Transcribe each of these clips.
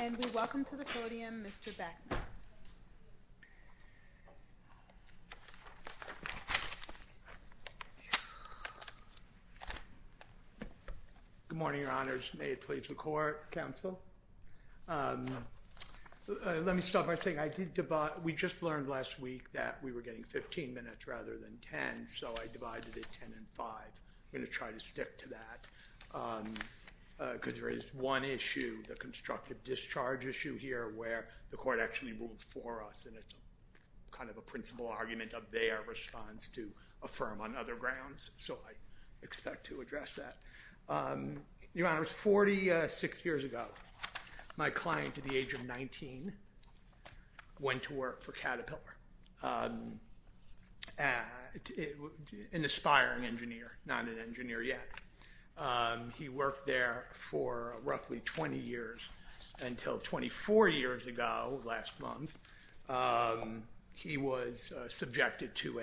And we welcome to the podium Mr. Beckman. Good morning, Your Honors. May it please the Court, Counsel. Let me start by saying we just learned last week that we were getting 15 minutes rather than 10, so I divided it 10 and 5. I'm going to try to stick to that, because there is one issue, the constructive discharge issue here, where the Court actually rules for us. And it's kind of a principal argument of their response to affirm on other grounds, so I expect to address that. Your Honors, 46 years ago, my client at the age of 19 went to work for Caterpillar, an aspiring engineer, not an engineer yet. He worked there for roughly 20 years until 24 years ago, last month, he was subjected to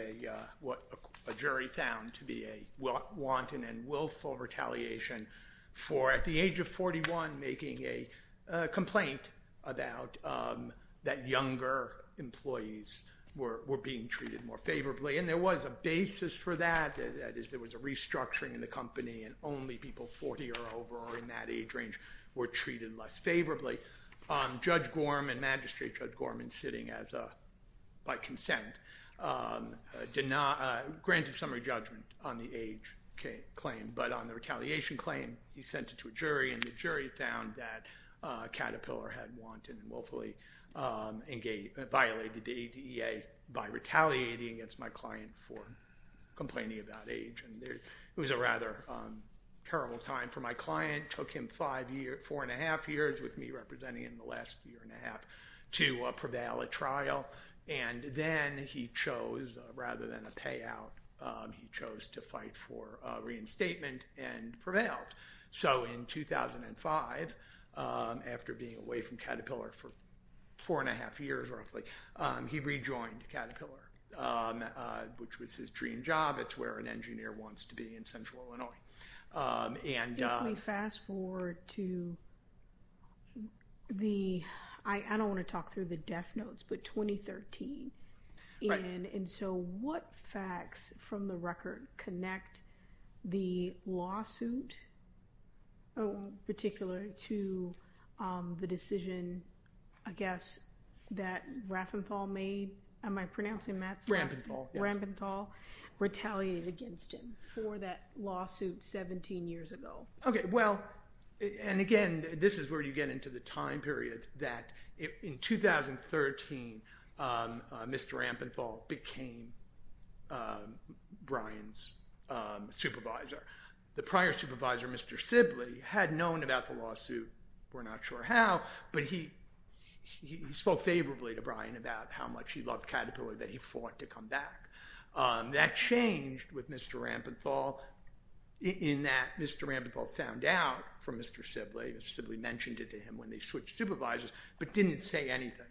what a jury found to be a wanton and willful retaliation for, at the age of 41, making a complaint about that younger employees were being treated more favorably. And there was a basis for that, that is there was a restructuring in the company and only people 40 or over in that age range were treated less favorably. Judge Gorman, Magistrate Judge Gorman, sitting by consent, granted summary judgment on the age claim, but on the retaliation claim, he sent it to a jury and the jury found that Caterpillar had wanton and willfully violated the ADA by retaliating against my client for complaining about age. It was a rather terrible time for my client, took him four and a half years, with me representing him the last year and a half, to prevail at trial, and then he chose, rather than a payout, he chose to fight for reinstatement and prevailed. So in 2005, after being away from Caterpillar for four and a half years, roughly, he rejoined Caterpillar, which was his dream job, it's where an engineer wants to be in Central Illinois. Fast forward to the, I don't want to talk through the death notes, but 2013. And so what facts from the record connect the lawsuit in particular to the decision, I guess, that Raphenthal made, am I pronouncing that? Rampenthal. Rampenthal retaliated against him for that lawsuit 17 years ago. Okay, well, and again, this is where you get into the time period that in 2013, Mr. Rampenthal became Brian's supervisor. The prior supervisor, Mr. Sibley, had known about the lawsuit, we're not sure how, but he spoke favorably to Brian about how much he loved Caterpillar that he fought to come back. That changed with Mr. Rampenthal in that Mr. Rampenthal found out from Mr. Sibley, Mr. Sibley mentioned it to him when they switched supervisors, but didn't say anything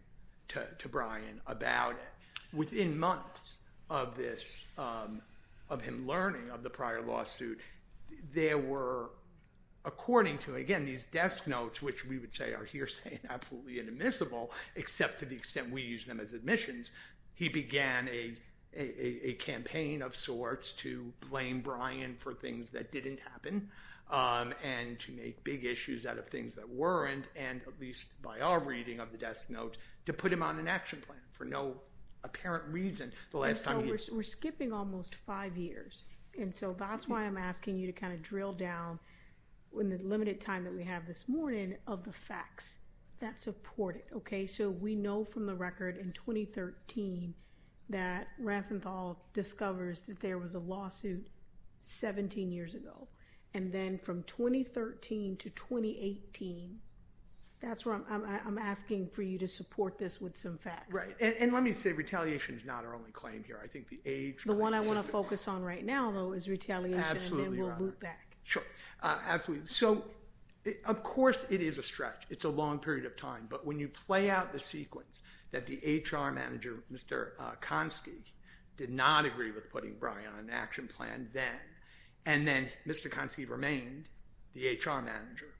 to Brian about it. Within months of this, of him learning of the prior lawsuit, there were, according to, again, these death notes, which we would say are hearsay and absolutely inadmissible, except to the extent we use them as admissions. He began a campaign of sorts to blame Brian for things that didn't happen, and to make big issues out of things that weren't, and at least by our reading of the death note, to put him on an action plan for no apparent reason. We're skipping almost five years, and so that's why I'm asking you to kind of drill down in the limited time that we have this morning of the facts that support it. Okay, so we know from the record in 2013 that Rampenthal discovers that there was a lawsuit 17 years ago, and then from 2013 to 2018, that's where I'm asking for you to support this with some facts. Right, and let me say retaliation is not our only claim here. I think the age... The one I want to focus on right now, though, is retaliation, and then we'll move back. Sure, absolutely. So, of course, it is a stretch. It's a long period of time, but when you play out the sequence that the HR manager, Mr. Konsky, did not agree with putting Brian on an action plan then, and then Mr. Konsky remained the HR manager,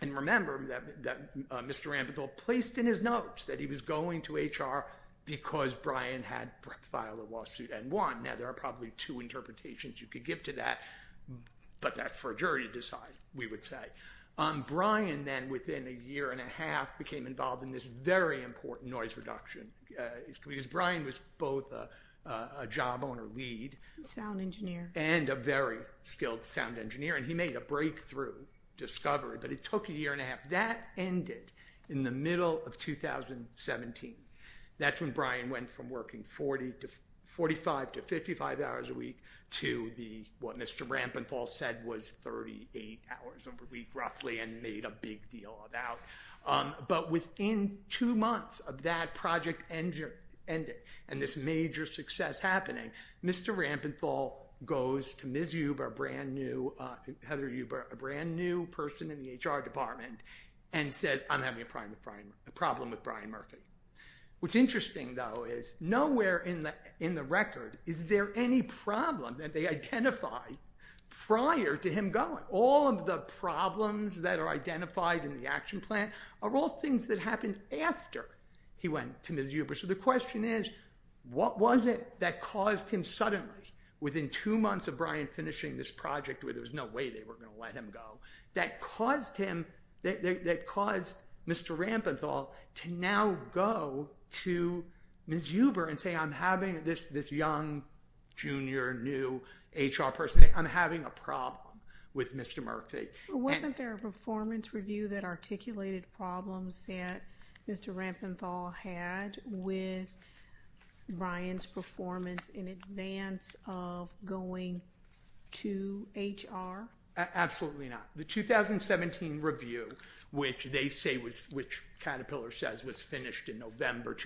and remember that Mr. Rampenthal placed in his notes that he was going to HR because Brian had filed a lawsuit and won. Now, there are probably two interpretations you could give to that, but that's for a jury to decide, we would say. Brian then, within a year and a half, became involved in this very important noise reduction, because Brian was both a job owner lead... Sound engineer. And a very skilled sound engineer, and he made a breakthrough discovery, but it took a year and a half. That ended in the middle of 2017. That's when Brian went from working 45 to 55 hours a week to what Mr. Rampenthal said was 38 hours a week, roughly, and made a big deal about. But within two months of that project ending and this major success happening, Mr. Rampenthal goes to Ms. Huber, Heather Huber, a brand new person in the HR department, and says, I'm having a problem with Brian Murphy. What's interesting, though, is nowhere in the record is there any problem that they identified prior to him going. All of the problems that are identified in the action plan are all things that happened after he went to Ms. Huber. So the question is, what was it that caused him suddenly, within two months of Brian finishing this project, where there was no way they were going to let him go, that caused Mr. Rampenthal to now go to Ms. Huber and say, I'm having this young, junior, new HR person, I'm having a problem with Mr. Murphy. Wasn't there a performance review that articulated problems that Mr. Rampenthal had with Brian's performance in advance of going to HR? Absolutely not. The 2017 review, which they say was, which Caterpillar says was finished in November,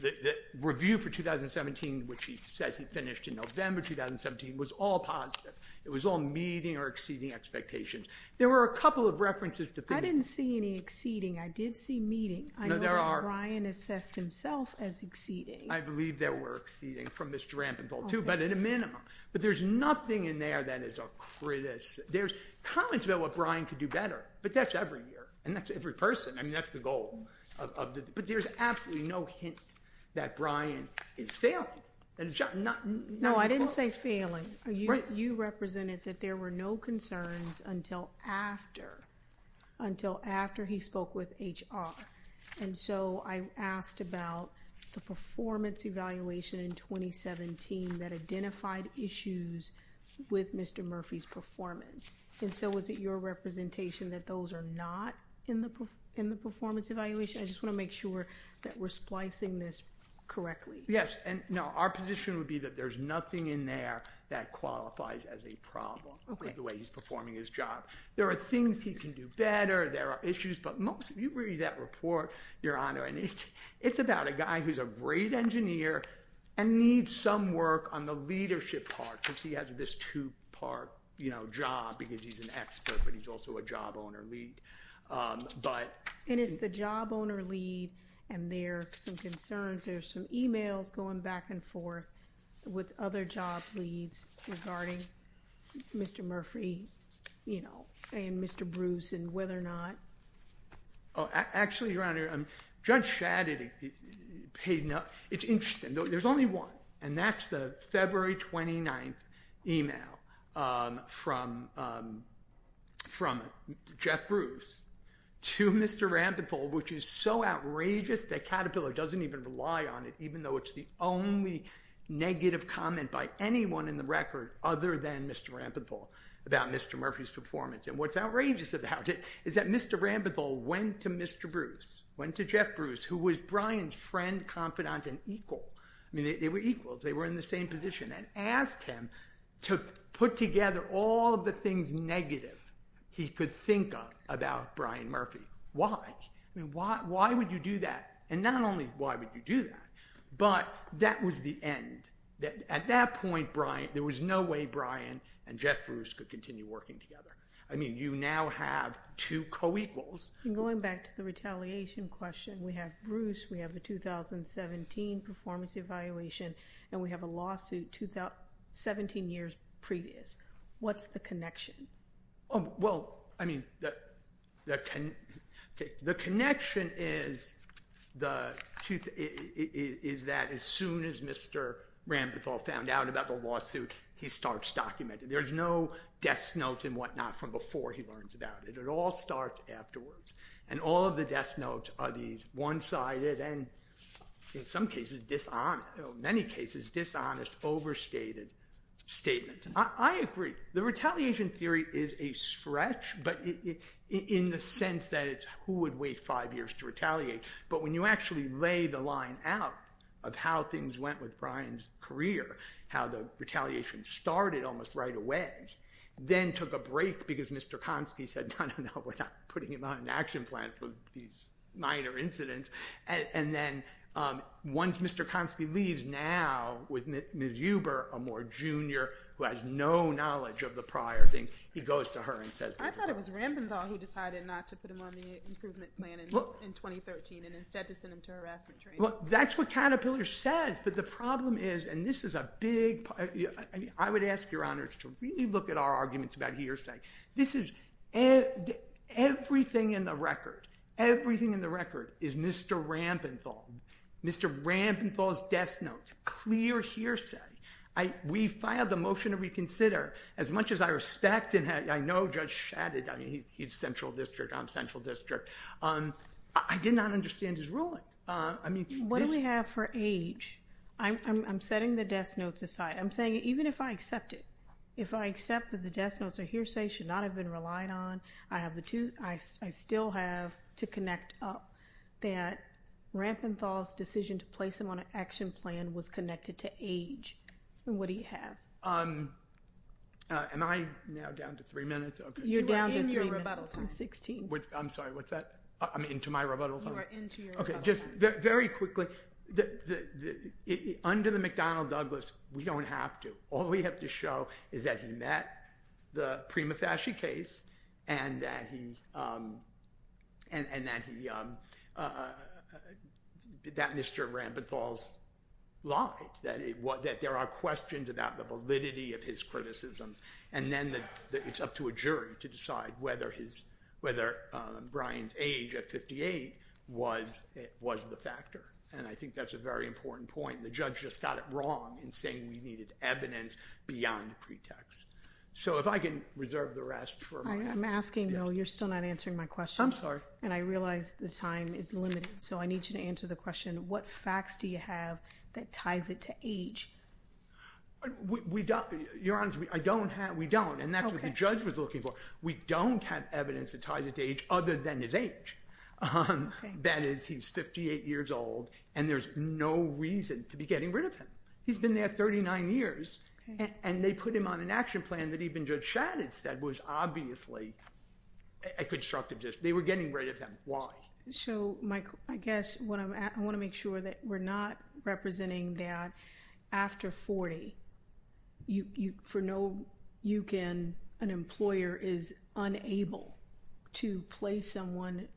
the review for 2017, which he says he finished in November 2017, was all positive. It was all meeting or exceeding expectations. There were a couple of references to things. I didn't see any exceeding. I did see meeting. I know that Brian assessed himself as exceeding. I believe there were exceeding from Mr. Rampenthal, too, but at a minimum. But there's nothing in there that is a criticism. There's comments about what Brian could do better, but that's every year, and that's every person. I mean, that's the goal. But there's absolutely no hint that Brian is failing. No, I didn't say failing. You represented that there were no concerns until after he spoke with HR. And so I asked about the performance evaluation in 2017 that identified issues with Mr. Murphy's performance. And so was it your representation that those are not in the performance evaluation? I just want to make sure that we're splicing this correctly. Yes, and no, our position would be that there's nothing in there that qualifies as a problem with the way he's performing his job. There are things he can do better. There are issues. But most of you read that report, Your Honor, and it's about a guy who's a great engineer and needs some work on the leadership part, because he has this two-part job because he's an expert, but he's also a job owner lead. And it's the job owner lead, and there are some concerns. There are some e-mails going back and forth with other job leads regarding Mr. Murphy and Mr. Bruce and whether or not. Actually, Your Honor, Judge Shadid paid enough. It's interesting. There's only one, and that's the February 29th e-mail from Jeff Bruce to Mr. Rampethal, which is so outrageous that Caterpillar doesn't even rely on it, even though it's the only negative comment by anyone in the record other than Mr. Rampethal about Mr. Murphy's performance. And what's outrageous about it is that Mr. Rampethal went to Mr. Bruce, went to Jeff Bruce, who was Brian's friend, confidant, and equal. I mean, they were equals. They were in the same position, and asked him to put together all of the things negative he could think of about Brian Murphy. Why? I mean, why would you do that? And not only why would you do that, but that was the end. At that point, there was no way Brian and Jeff Bruce could continue working together. I mean, you now have two co-equals. Going back to the retaliation question, we have Bruce, we have the 2017 performance evaluation, and we have a lawsuit 17 years previous. What's the connection? Well, I mean, the connection is that as soon as Mr. Rampethal found out about the lawsuit, he starts documenting. There's no desk notes and whatnot from before he learns about it. It all starts afterwards, and all of the desk notes are these one-sided and, in some cases, dishonest, in many cases, dishonest, overstated statements. I agree. The retaliation theory is a stretch, but in the sense that it's who would wait five years to retaliate. But when you actually lay the line out of how things went with Brian's career, how the retaliation started almost right away, then took a break because Mr. Konsky said, no, no, no, we're not putting him on an action plan for these minor incidents. And then once Mr. Konsky leaves, now with Ms. Huber, a more junior who has no knowledge of the prior thing, he goes to her and says, I thought it was Rampethal who decided not to put him on the improvement plan in 2013 and instead to send him to harassment training. Well, that's what Caterpillar says. But the problem is, and this is a big part. I would ask your honors to really look at our arguments about hearsay. This is everything in the record. Everything in the record is Mr. Rampethal. Mr. Rampethal's desk notes. Clear hearsay. We filed a motion to reconsider. As much as I respect and I know Judge Shadid, he's central district. I'm central district. I did not understand his ruling. What do we have for age? I'm setting the desk notes aside. I'm saying even if I accept it, if I accept that the desk notes are hearsay, should not have been relied on. I still have to connect up that Rampethal's decision to place him on an action plan was connected to age. What do you have? Am I now down to three minutes? You're down to three minutes. I'm sorry, what's that? I'm into my rebuttal time? Very quickly, under the McDonnell Douglas, we don't have to. All we have to show is that he met the Prima Fasci case and that Mr. Rampethal lied. That there are questions about the validity of his criticisms. Then it's up to a jury to decide whether Brian's age at 58 was the factor. I think that's a very important point. The judge just got it wrong in saying we needed evidence beyond pretext. If I can reserve the rest for my— I'm asking, though you're still not answering my question. I'm sorry. I realize the time is limited, so I need you to answer the question. What facts do you have that ties it to age? Your Honor, we don't, and that's what the judge was looking for. We don't have evidence that ties it to age other than his age. That is, he's 58 years old, and there's no reason to be getting rid of him. He's been there 39 years, and they put him on an action plan that even Judge Shadid said was obviously a constructive decision. They were getting rid of him. Why? So, Mike, I guess what I'm—I want to make sure that we're not representing that after 40, for no you can, an employer is unable to place someone—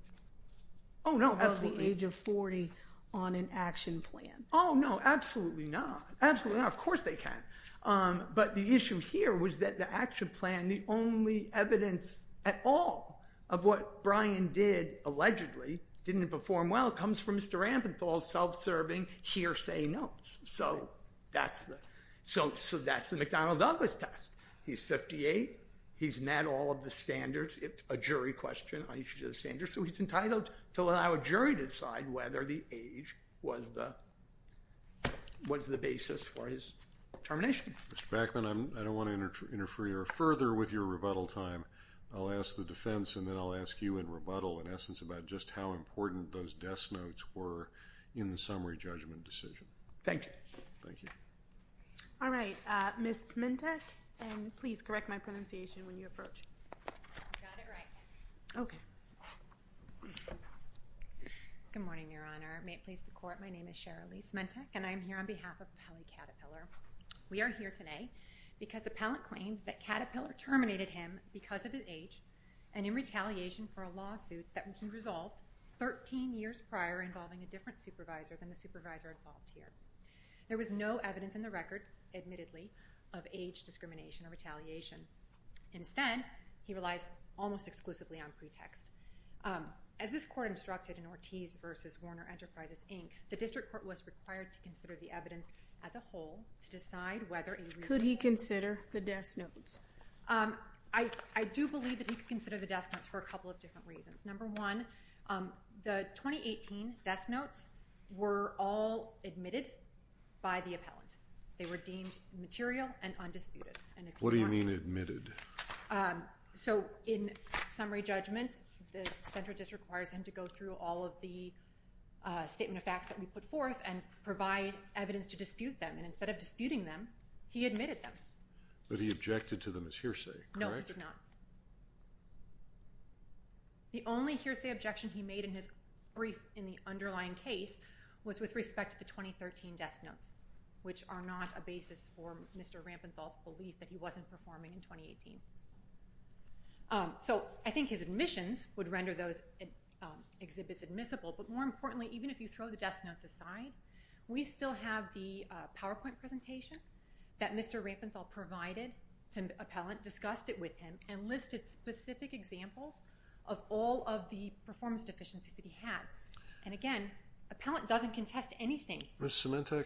Oh, no, absolutely. —of the age of 40 on an action plan. Oh, no, absolutely not. Absolutely not. Of course they can. But the issue here was that the action plan, the only evidence at all of what Brian did, allegedly, didn't perform well, comes from Mr. Rampenthal's self-serving hearsay notes. So that's the—so that's the McDonald-Douglas test. He's 58. He's met all of the standards. It's a jury question on each of the standards. So he's entitled to allow a jury to decide whether the age was the basis for his termination. Mr. Backman, I don't want to interfere further with your rebuttal time. I'll ask the defense, and then I'll ask you in rebuttal, in essence, about just how important those death notes were in the summary judgment decision. Thank you. Thank you. All right. Ms. Smentek, and please correct my pronunciation when you approach. You got it right. Okay. Good morning, Your Honor. May it please the Court, my name is Cheryl Lee Smentek, and I am here on behalf of Appellant Caterpillar. We are here today because Appellant claims that Caterpillar terminated him because of his age and in retaliation for a lawsuit that was resolved 13 years prior involving a different supervisor than the supervisor involved here. There was no evidence in the record, admittedly, of age discrimination or retaliation. Instead, he relies almost exclusively on pretext. As this Court instructed in Ortiz v. Warner Enterprises, Inc., the District Court was required to consider the evidence as a whole to decide whether a reasonable— Could he consider the death notes? I do believe that he could consider the death notes for a couple of different reasons. Number one, the 2018 death notes were all admitted by the appellant. They were deemed material and undisputed. What do you mean admitted? So, in summary judgment, the Central District requires him to go through all of the statement of facts that we put forth and provide evidence to dispute them. And instead of disputing them, he admitted them. But he objected to them as hearsay, correct? No, he did not. The only hearsay objection he made in the underlying case was with respect to the 2013 death notes, which are not a basis for Mr. Rampenthal's belief that he wasn't performing in 2018. So, I think his admissions would render those exhibits admissible, but more importantly, even if you throw the death notes aside, we still have the PowerPoint presentation that Mr. Rampenthal provided to the appellant, discussed it with him, and listed specific examples of all of the performance deficiencies that he had. And again, the appellant doesn't contest anything. Ms. Sementek,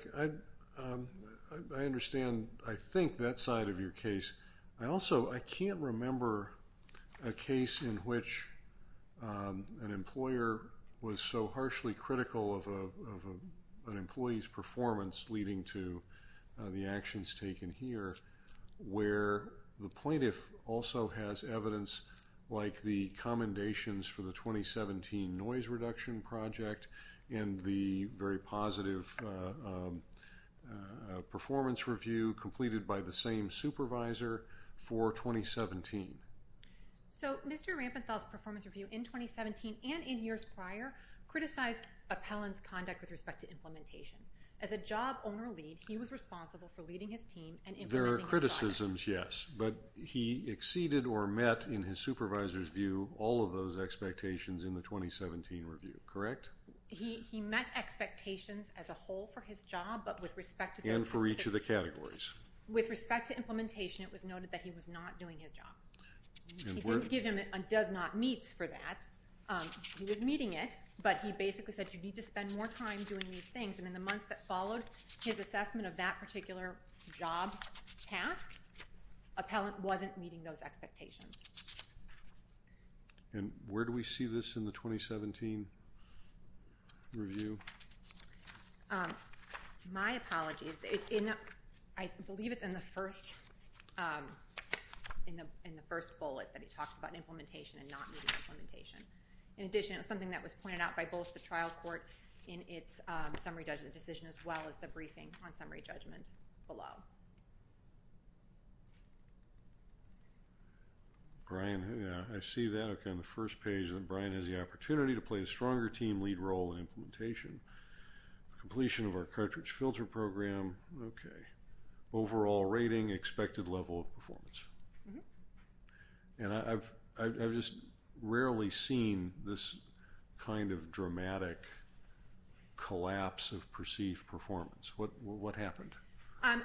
I understand, I think, that side of your case. I also, I can't remember a case in which an employer was so harshly critical of an employee's performance leading to the actions taken here, where the plaintiff also has evidence like the commendations for the 2017 noise reduction project, and the very positive performance review completed by the same supervisor for 2017. So, Mr. Rampenthal's performance review in 2017 and in years prior criticized appellant's conduct with respect to implementation. As a job owner lead, he was responsible for leading his team and implementing his project. There are criticisms, yes, but he exceeded or met, in his supervisor's view, all of those expectations in the 2017 review, correct? He met expectations as a whole for his job, but with respect to those specific... And for each of the categories. With respect to implementation, it was noted that he was not doing his job. He didn't give him a does not meets for that. He was meeting it, but he basically said you need to spend more time doing these things, and in the months that followed his assessment of that particular job task, appellant wasn't meeting those expectations. And where do we see this in the 2017 review? My apologies. I believe it's in the first bullet that he talks about implementation and not meeting implementation. In addition, it was something that was pointed out by both the trial court in its summary judgment decision as well as the briefing on summary judgment below. Brian, I see that. Okay, on the first page, Brian has the opportunity to play a stronger team lead role in implementation. Completion of our cartridge filter program. Okay. Overall rating, expected level of performance. And I've just rarely seen this kind of dramatic collapse of perceived performance. What happened?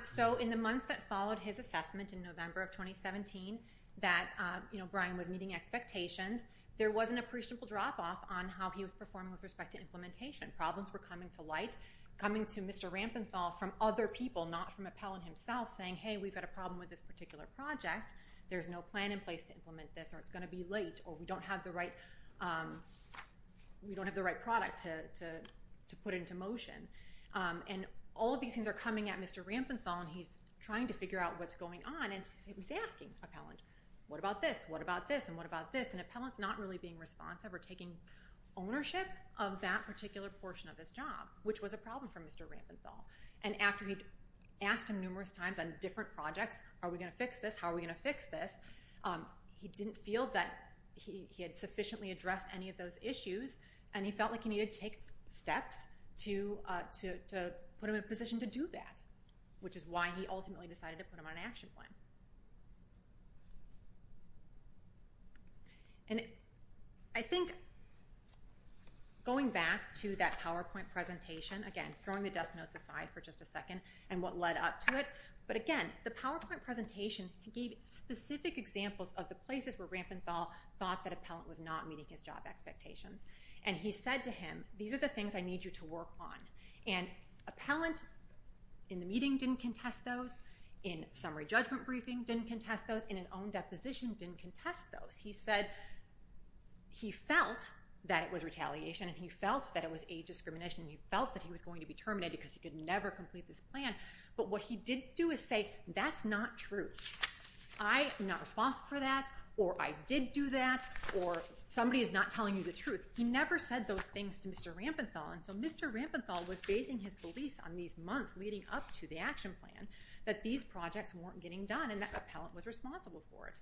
So in the months that followed his assessment in November of 2017 that Brian was meeting expectations, there was an appreciable drop off on how he was performing with respect to implementation. Problems were coming to light, coming to Mr. Rampenthal from other people, not from appellant himself, saying, hey, we've got a problem with this particular project, there's no plan in place to implement this, or it's going to be late, or we don't have the right product to put into motion. And all of these things are coming at Mr. Rampenthal, and he's trying to figure out what's going on, and he's asking appellant, what about this, what about this, and what about this? And appellant's not really being responsive or taking ownership of that particular portion of his job, which was a problem for Mr. Rampenthal. And after he'd asked him numerous times on different projects, are we going to fix this, how are we going to fix this, he didn't feel that he had sufficiently addressed any of those issues, and he felt like he needed to take steps to put him in a position to do that, which is why he ultimately decided to put him on an action plan. And I think going back to that PowerPoint presentation, again, throwing the desk notes aside for just a second, and what led up to it, but again, the PowerPoint presentation gave specific examples of the places where Rampenthal thought that appellant was not meeting his job expectations. And he said to him, these are the things I need you to work on. And appellant in the meeting didn't contest those, in summary judgment briefing didn't contest those, in his own deposition didn't contest those. He said he felt that it was retaliation, and he felt that it was a discrimination, and he felt that he was going to be terminated because he could never complete this plan, but what he did do is say, that's not true. I am not responsible for that, or I did do that, or somebody is not telling you the truth. He never said those things to Mr. Rampenthal. And so Mr. Rampenthal was basing his beliefs on these months leading up to the action plan, that these projects weren't getting done, and that appellant was responsible for it.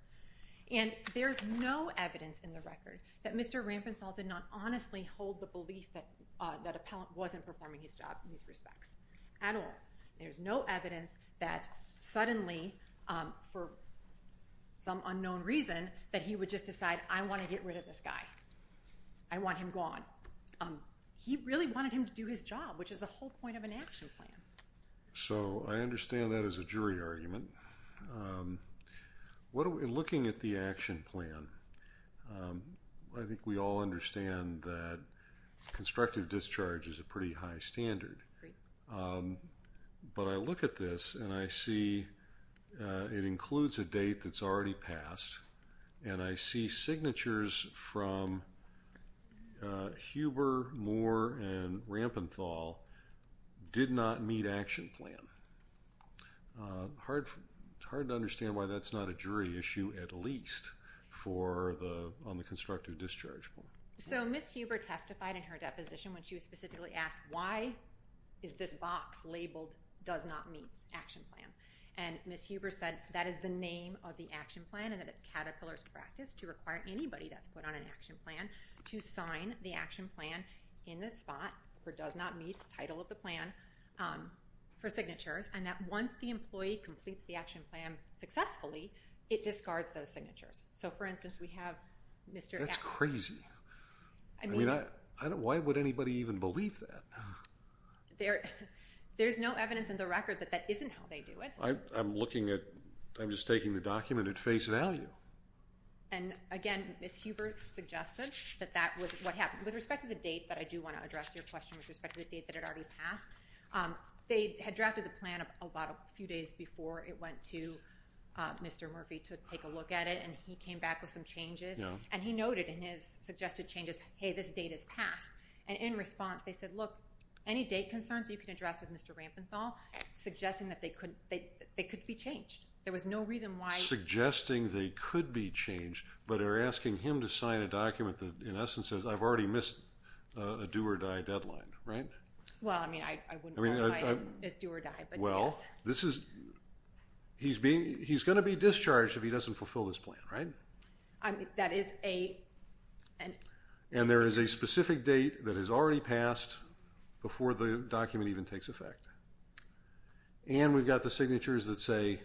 And there's no evidence in the record that Mr. Rampenthal did not honestly hold the belief that appellant wasn't performing his job in these respects at all. There's no evidence that suddenly, for some unknown reason, that he would just decide, I want to get rid of this guy. I want him gone. He really wanted him to do his job, which is the whole point of an action plan. So I understand that as a jury argument. In looking at the action plan, I think we all understand that constructive discharge is a pretty high standard. But I look at this, and I see it includes a date that's already passed, and I see signatures from Huber, Moore, and Rampenthal did not meet action plan. Hard to understand why that's not a jury issue at least on the constructive discharge. So Ms. Huber testified in her deposition when she was specifically asked, why is this box labeled does not meet action plan? And Ms. Huber said that is the name of the action plan, and that it's Caterpillar's practice to require anybody that's put on an action plan to sign the action plan in this spot for does not meet title of the plan for signatures, and that once the employee completes the action plan successfully, it discards those signatures. So, for instance, we have Mr. Rampenthal. That's crazy. Why would anybody even believe that? There's no evidence in the record that that isn't how they do it. I'm looking at ‑‑ I'm just taking the document at face value. And, again, Ms. Huber suggested that that was what happened. With respect to the date, but I do want to address your question with respect to the date that had already passed, they had drafted the plan a few days before it went to Mr. Murphy to take a look at it, and he came back with some changes, and he noted in his suggested changes, hey, this date is passed. And in response, they said, look, any date concerns you can address with Mr. Rampenthal, suggesting that they could be changed. There was no reason why ‑‑ Suggesting they could be changed but are asking him to sign a document that, in essence, says I've already missed a do or die deadline, right? Well, I mean, I wouldn't qualify it as do or die, but yes. Well, this is ‑‑ he's going to be discharged if he doesn't fulfill this plan, right? That is a ‑‑ And there is a specific date that has already passed before the document even takes effect. And we've got the signatures that say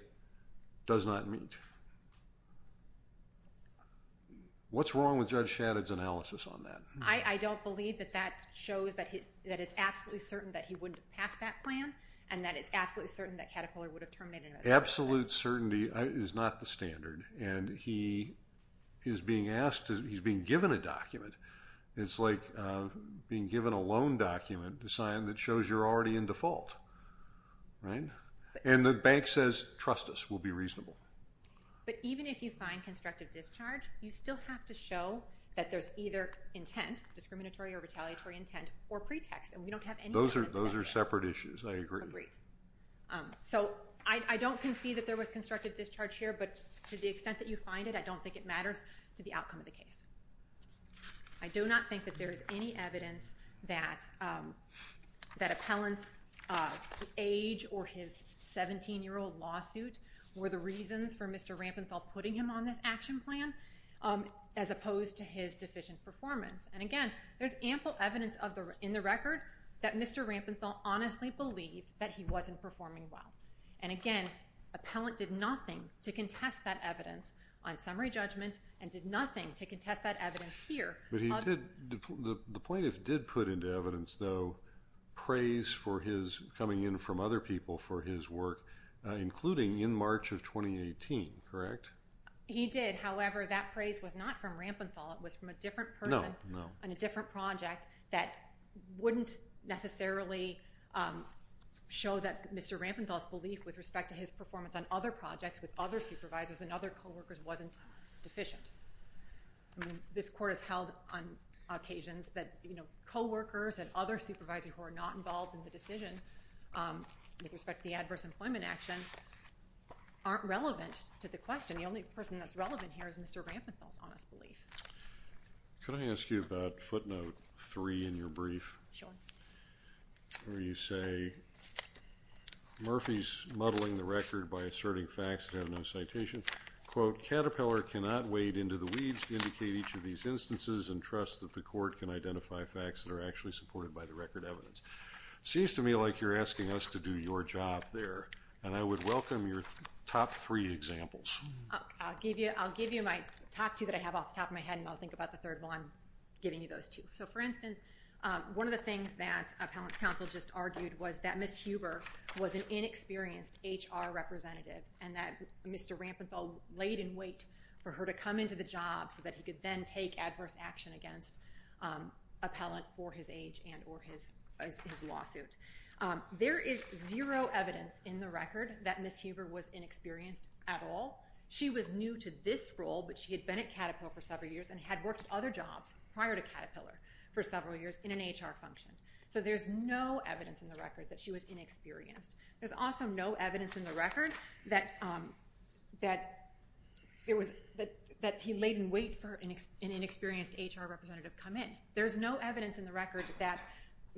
does not meet. What's wrong with Judge Shadid's analysis on that? I don't believe that that shows that it's absolutely certain that he wouldn't have passed that plan and that it's absolutely certain that Caterpillar would have terminated it. Absolute certainty is not the standard, and he is being asked to ‑‑ he's being given a document. It's like being given a loan document to sign that shows you're already in default, right? And the bank says trust us, we'll be reasonable. But even if you find constructive discharge, you still have to show that there's either intent, discriminatory or retaliatory intent, or pretext. And we don't have anything like that. Those are separate issues. I agree. So I don't concede that there was constructive discharge here, but to the extent that you find it, I don't think it matters to the outcome of the case. I do not think that there is any evidence that appellant's age or his 17‑year‑old lawsuit were the reasons for Mr. Rampenthal putting him on this action plan as opposed to his deficient performance. And, again, there's ample evidence in the record that Mr. Rampenthal honestly believed that he wasn't performing well. And, again, appellant did nothing to contest that evidence on summary judgment and did nothing to contest that evidence here. But he did ‑‑ the plaintiff did put into evidence, though, praise for his coming in from other people for his work, including in March of 2018, correct? He did. However, that praise was not from Rampenthal. It was from a different person on a different project that wouldn't necessarily show that Mr. Rampenthal's belief with respect to his performance on other projects with other supervisors and other coworkers wasn't deficient. This Court has held on occasions that coworkers and other supervisors who are not involved in the decision with respect to the adverse employment action aren't relevant to the question. The only person that's relevant here is Mr. Rampenthal's honest belief. Could I ask you about footnote three in your brief? Where you say, Murphy's muddling the record by asserting facts that have no citation. Quote, Caterpillar cannot wade into the weeds to indicate each of these instances and trust that the Court can identify facts that are actually supported by the record evidence. Seems to me like you're asking us to do your job there. And I would welcome your top three examples. I'll give you my top two that I have off the top of my head and I'll think about the third one. I'm giving you those two. So, for instance, one of the things that appellant's counsel just argued was that Ms. Huber was an inexperienced HR representative and that Mr. Rampenthal laid in wait for her to come into the job so that he could then take adverse action against appellant for his age and or his lawsuit. There is zero evidence in the record that Ms. Huber was inexperienced at all. She was new to this role, but she had been at Caterpillar for several years and had worked at other jobs prior to Caterpillar for several years in an HR function. So there's no evidence in the record that she was inexperienced. There's also no evidence in the record that he laid in wait for an inexperienced HR representative to come in. There's no evidence in the record that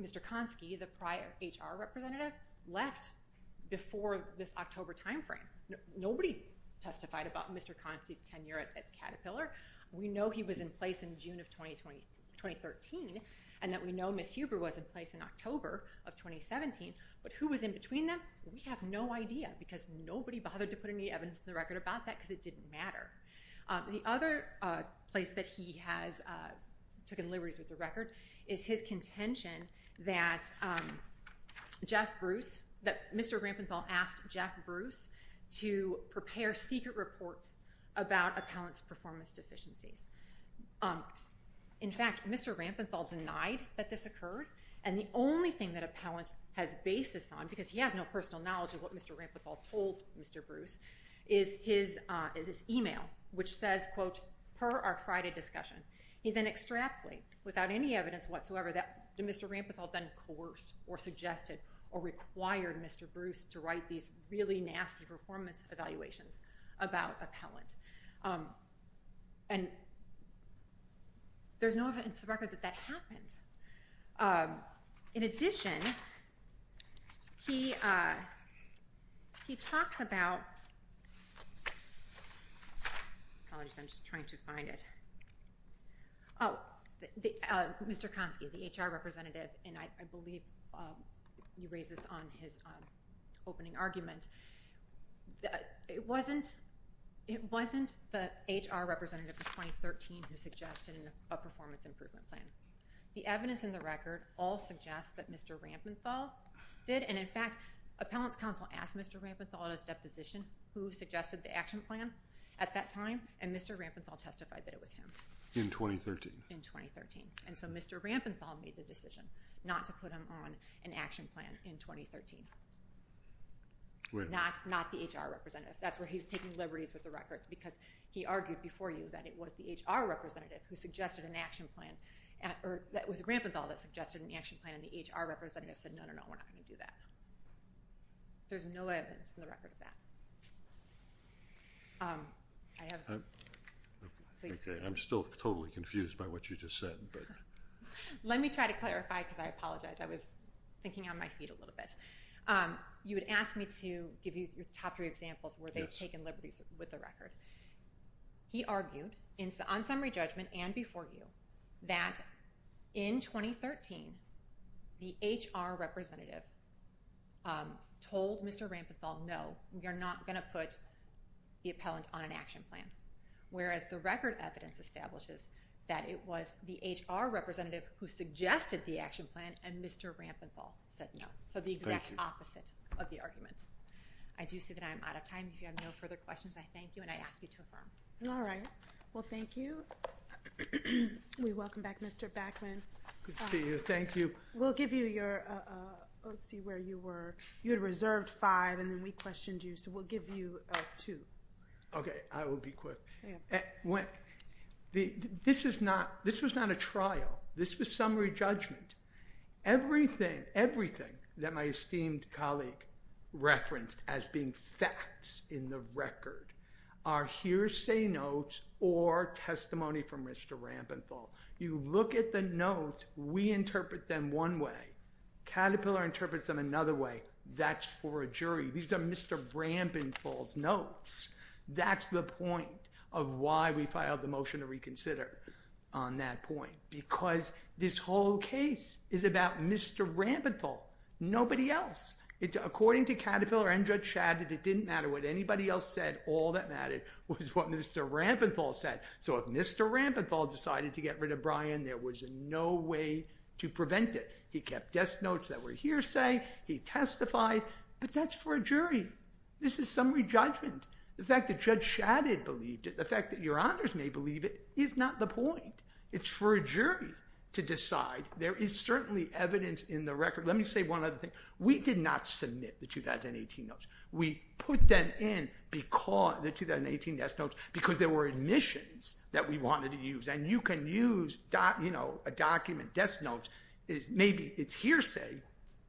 Mr. Konsky, the prior HR representative, left before this October timeframe. Nobody testified about Mr. Konsky's tenure at Caterpillar. We know he was in place in June of 2013 and that we know Ms. Huber was in place in October of 2017, but who was in between them, we have no idea because nobody bothered to put any evidence in the record about that because it didn't matter. The other place that he has taken liberties with the record is his contention that Mr. Rampenthal asked Jeff Bruce to prepare secret reports about a palant's performance deficiencies. In fact, Mr. Rampenthal denied that this occurred, and the only thing that a palant has basis on, because he has no personal knowledge of what Mr. Rampenthal told Mr. Bruce, is this email which says, quote, per our Friday discussion. He then extrapolates without any evidence whatsoever that Mr. Rampenthal then coerced or suggested or required Mr. Bruce to write these really nasty performance evaluations about a palant. And there's no evidence in the record that that happened. In addition, he talks about, I'm just trying to find it. Oh, Mr. Konsky, the HR representative, and I believe you raised this on his opening argument. It wasn't the HR representative in 2013 who suggested a performance improvement plan. The evidence in the record all suggests that Mr. Rampenthal did, and in fact, a palant's counsel asked Mr. Rampenthal at his deposition who suggested the action plan at that time, and Mr. Rampenthal testified that it was him. In 2013? In 2013. And so Mr. Rampenthal made the decision not to put him on an action plan in 2013. Where? Not the HR representative. That's where he's taking liberties with the record, because he argued before you that it was the HR representative who suggested an action plan, or that it was Rampenthal that suggested an action plan, and the HR representative said, no, no, no, we're not going to do that. There's no evidence in the record of that. I have a question. Okay. I'm still totally confused by what you just said. Let me try to clarify, because I apologize. I was thinking on my feet a little bit. You had asked me to give you the top three examples where they've taken liberties with the record. He argued, on summary judgment and before you, that in 2013, the HR representative told Mr. Rampenthal, no, you're not going to put the appellant on an action plan. Whereas the record evidence establishes that it was the HR representative who suggested the action plan, and Mr. Rampenthal said no. So the exact opposite of the argument. I do see that I am out of time. If you have no further questions, I thank you, and I ask you to affirm. All right. Well, thank you. We welcome back Mr. Backman. Good to see you. Thank you. We'll give you your ‑‑ let's see where you were. You had reserved five, and then we questioned you, so we'll give you two. Okay. I will be quick. This was not a trial. This was summary judgment. Everything that my esteemed colleague referenced as being facts in the record are hearsay notes or testimony from Mr. Rampenthal. You look at the notes. We interpret them one way. Caterpillar interprets them another way. That's for a jury. These are Mr. Rampenthal's notes. That's the point of why we filed the motion to reconsider on that point. Because this whole case is about Mr. Rampenthal, nobody else. According to Caterpillar and Judge Shadid, it didn't matter what anybody else said. All that mattered was what Mr. Rampenthal said. So if Mr. Rampenthal decided to get rid of Brian, there was no way to prevent it. He kept desk notes that were hearsay. He testified, but that's for a jury. This is summary judgment. The fact that Judge Shadid believed it, the fact that your honors may believe it, is not the point. It's for a jury to decide. There is certainly evidence in the record. Let me say one other thing. We did not submit the 2018 notes. We put them in the 2018 desk notes because there were admissions that we wanted to use. And you can use a document, desk notes, maybe it's hearsay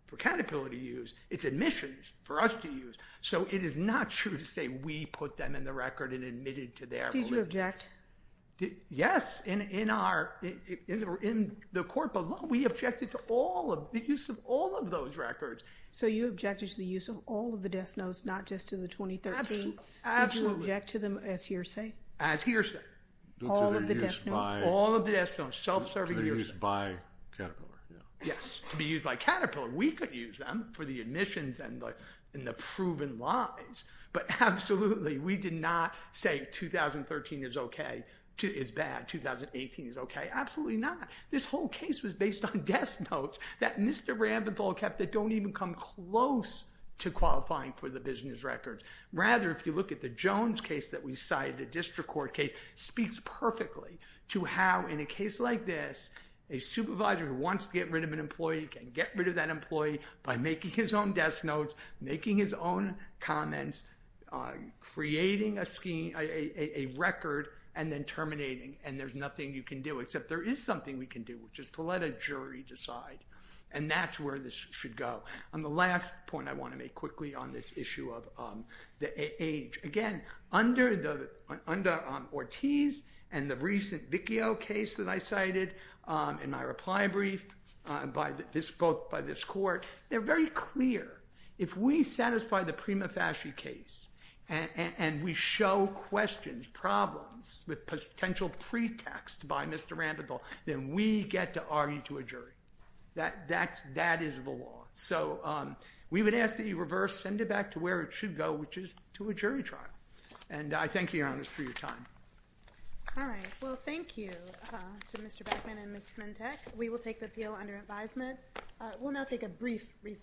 for Caterpillar to use. It's admissions for us to use. So it is not true to say we put them in the record and admitted to their belief. Did you object? Yes, in the court. But look, we objected to the use of all of those records. So you objected to the use of all of the desk notes, not just in the 2013? Absolutely. Did you object to them as hearsay? As hearsay. All of the desk notes. All of the desk notes, self-serving hearsay. To be used by Caterpillar. Yes, to be used by Caterpillar. We could use them for the admissions and the proven lies. But absolutely, we did not say 2013 is okay. It's bad. 2018 is okay. Absolutely not. This whole case was based on desk notes that Mr. Rambenthal kept that don't even come close to qualifying for the business records. Rather, if you look at the Jones case that we cited, the district court case, speaks perfectly to how, in a case like this, a supervisor who wants to get rid of an employee can get his own desk notes, making his own comments, creating a record, and then terminating. And there's nothing you can do. Except there is something we can do, which is to let a jury decide. And that's where this should go. And the last point I want to make quickly on this issue of the age. Again, under Ortiz and the recent Vickio case that I cited in my reply brief by this court, they're very clear. If we satisfy the Prima Fasci case and we show questions, problems, with potential pretext by Mr. Rambenthal, then we get to argue to a jury. That is the law. So we would ask that you reverse, send it back to where it should go, which is to a jury trial. And I thank you, Your Honor, for your time. All right. Well, thank you to Mr. Beckman and Ms. Smentech. We will take the appeal under advisement. We'll now take a brief recess.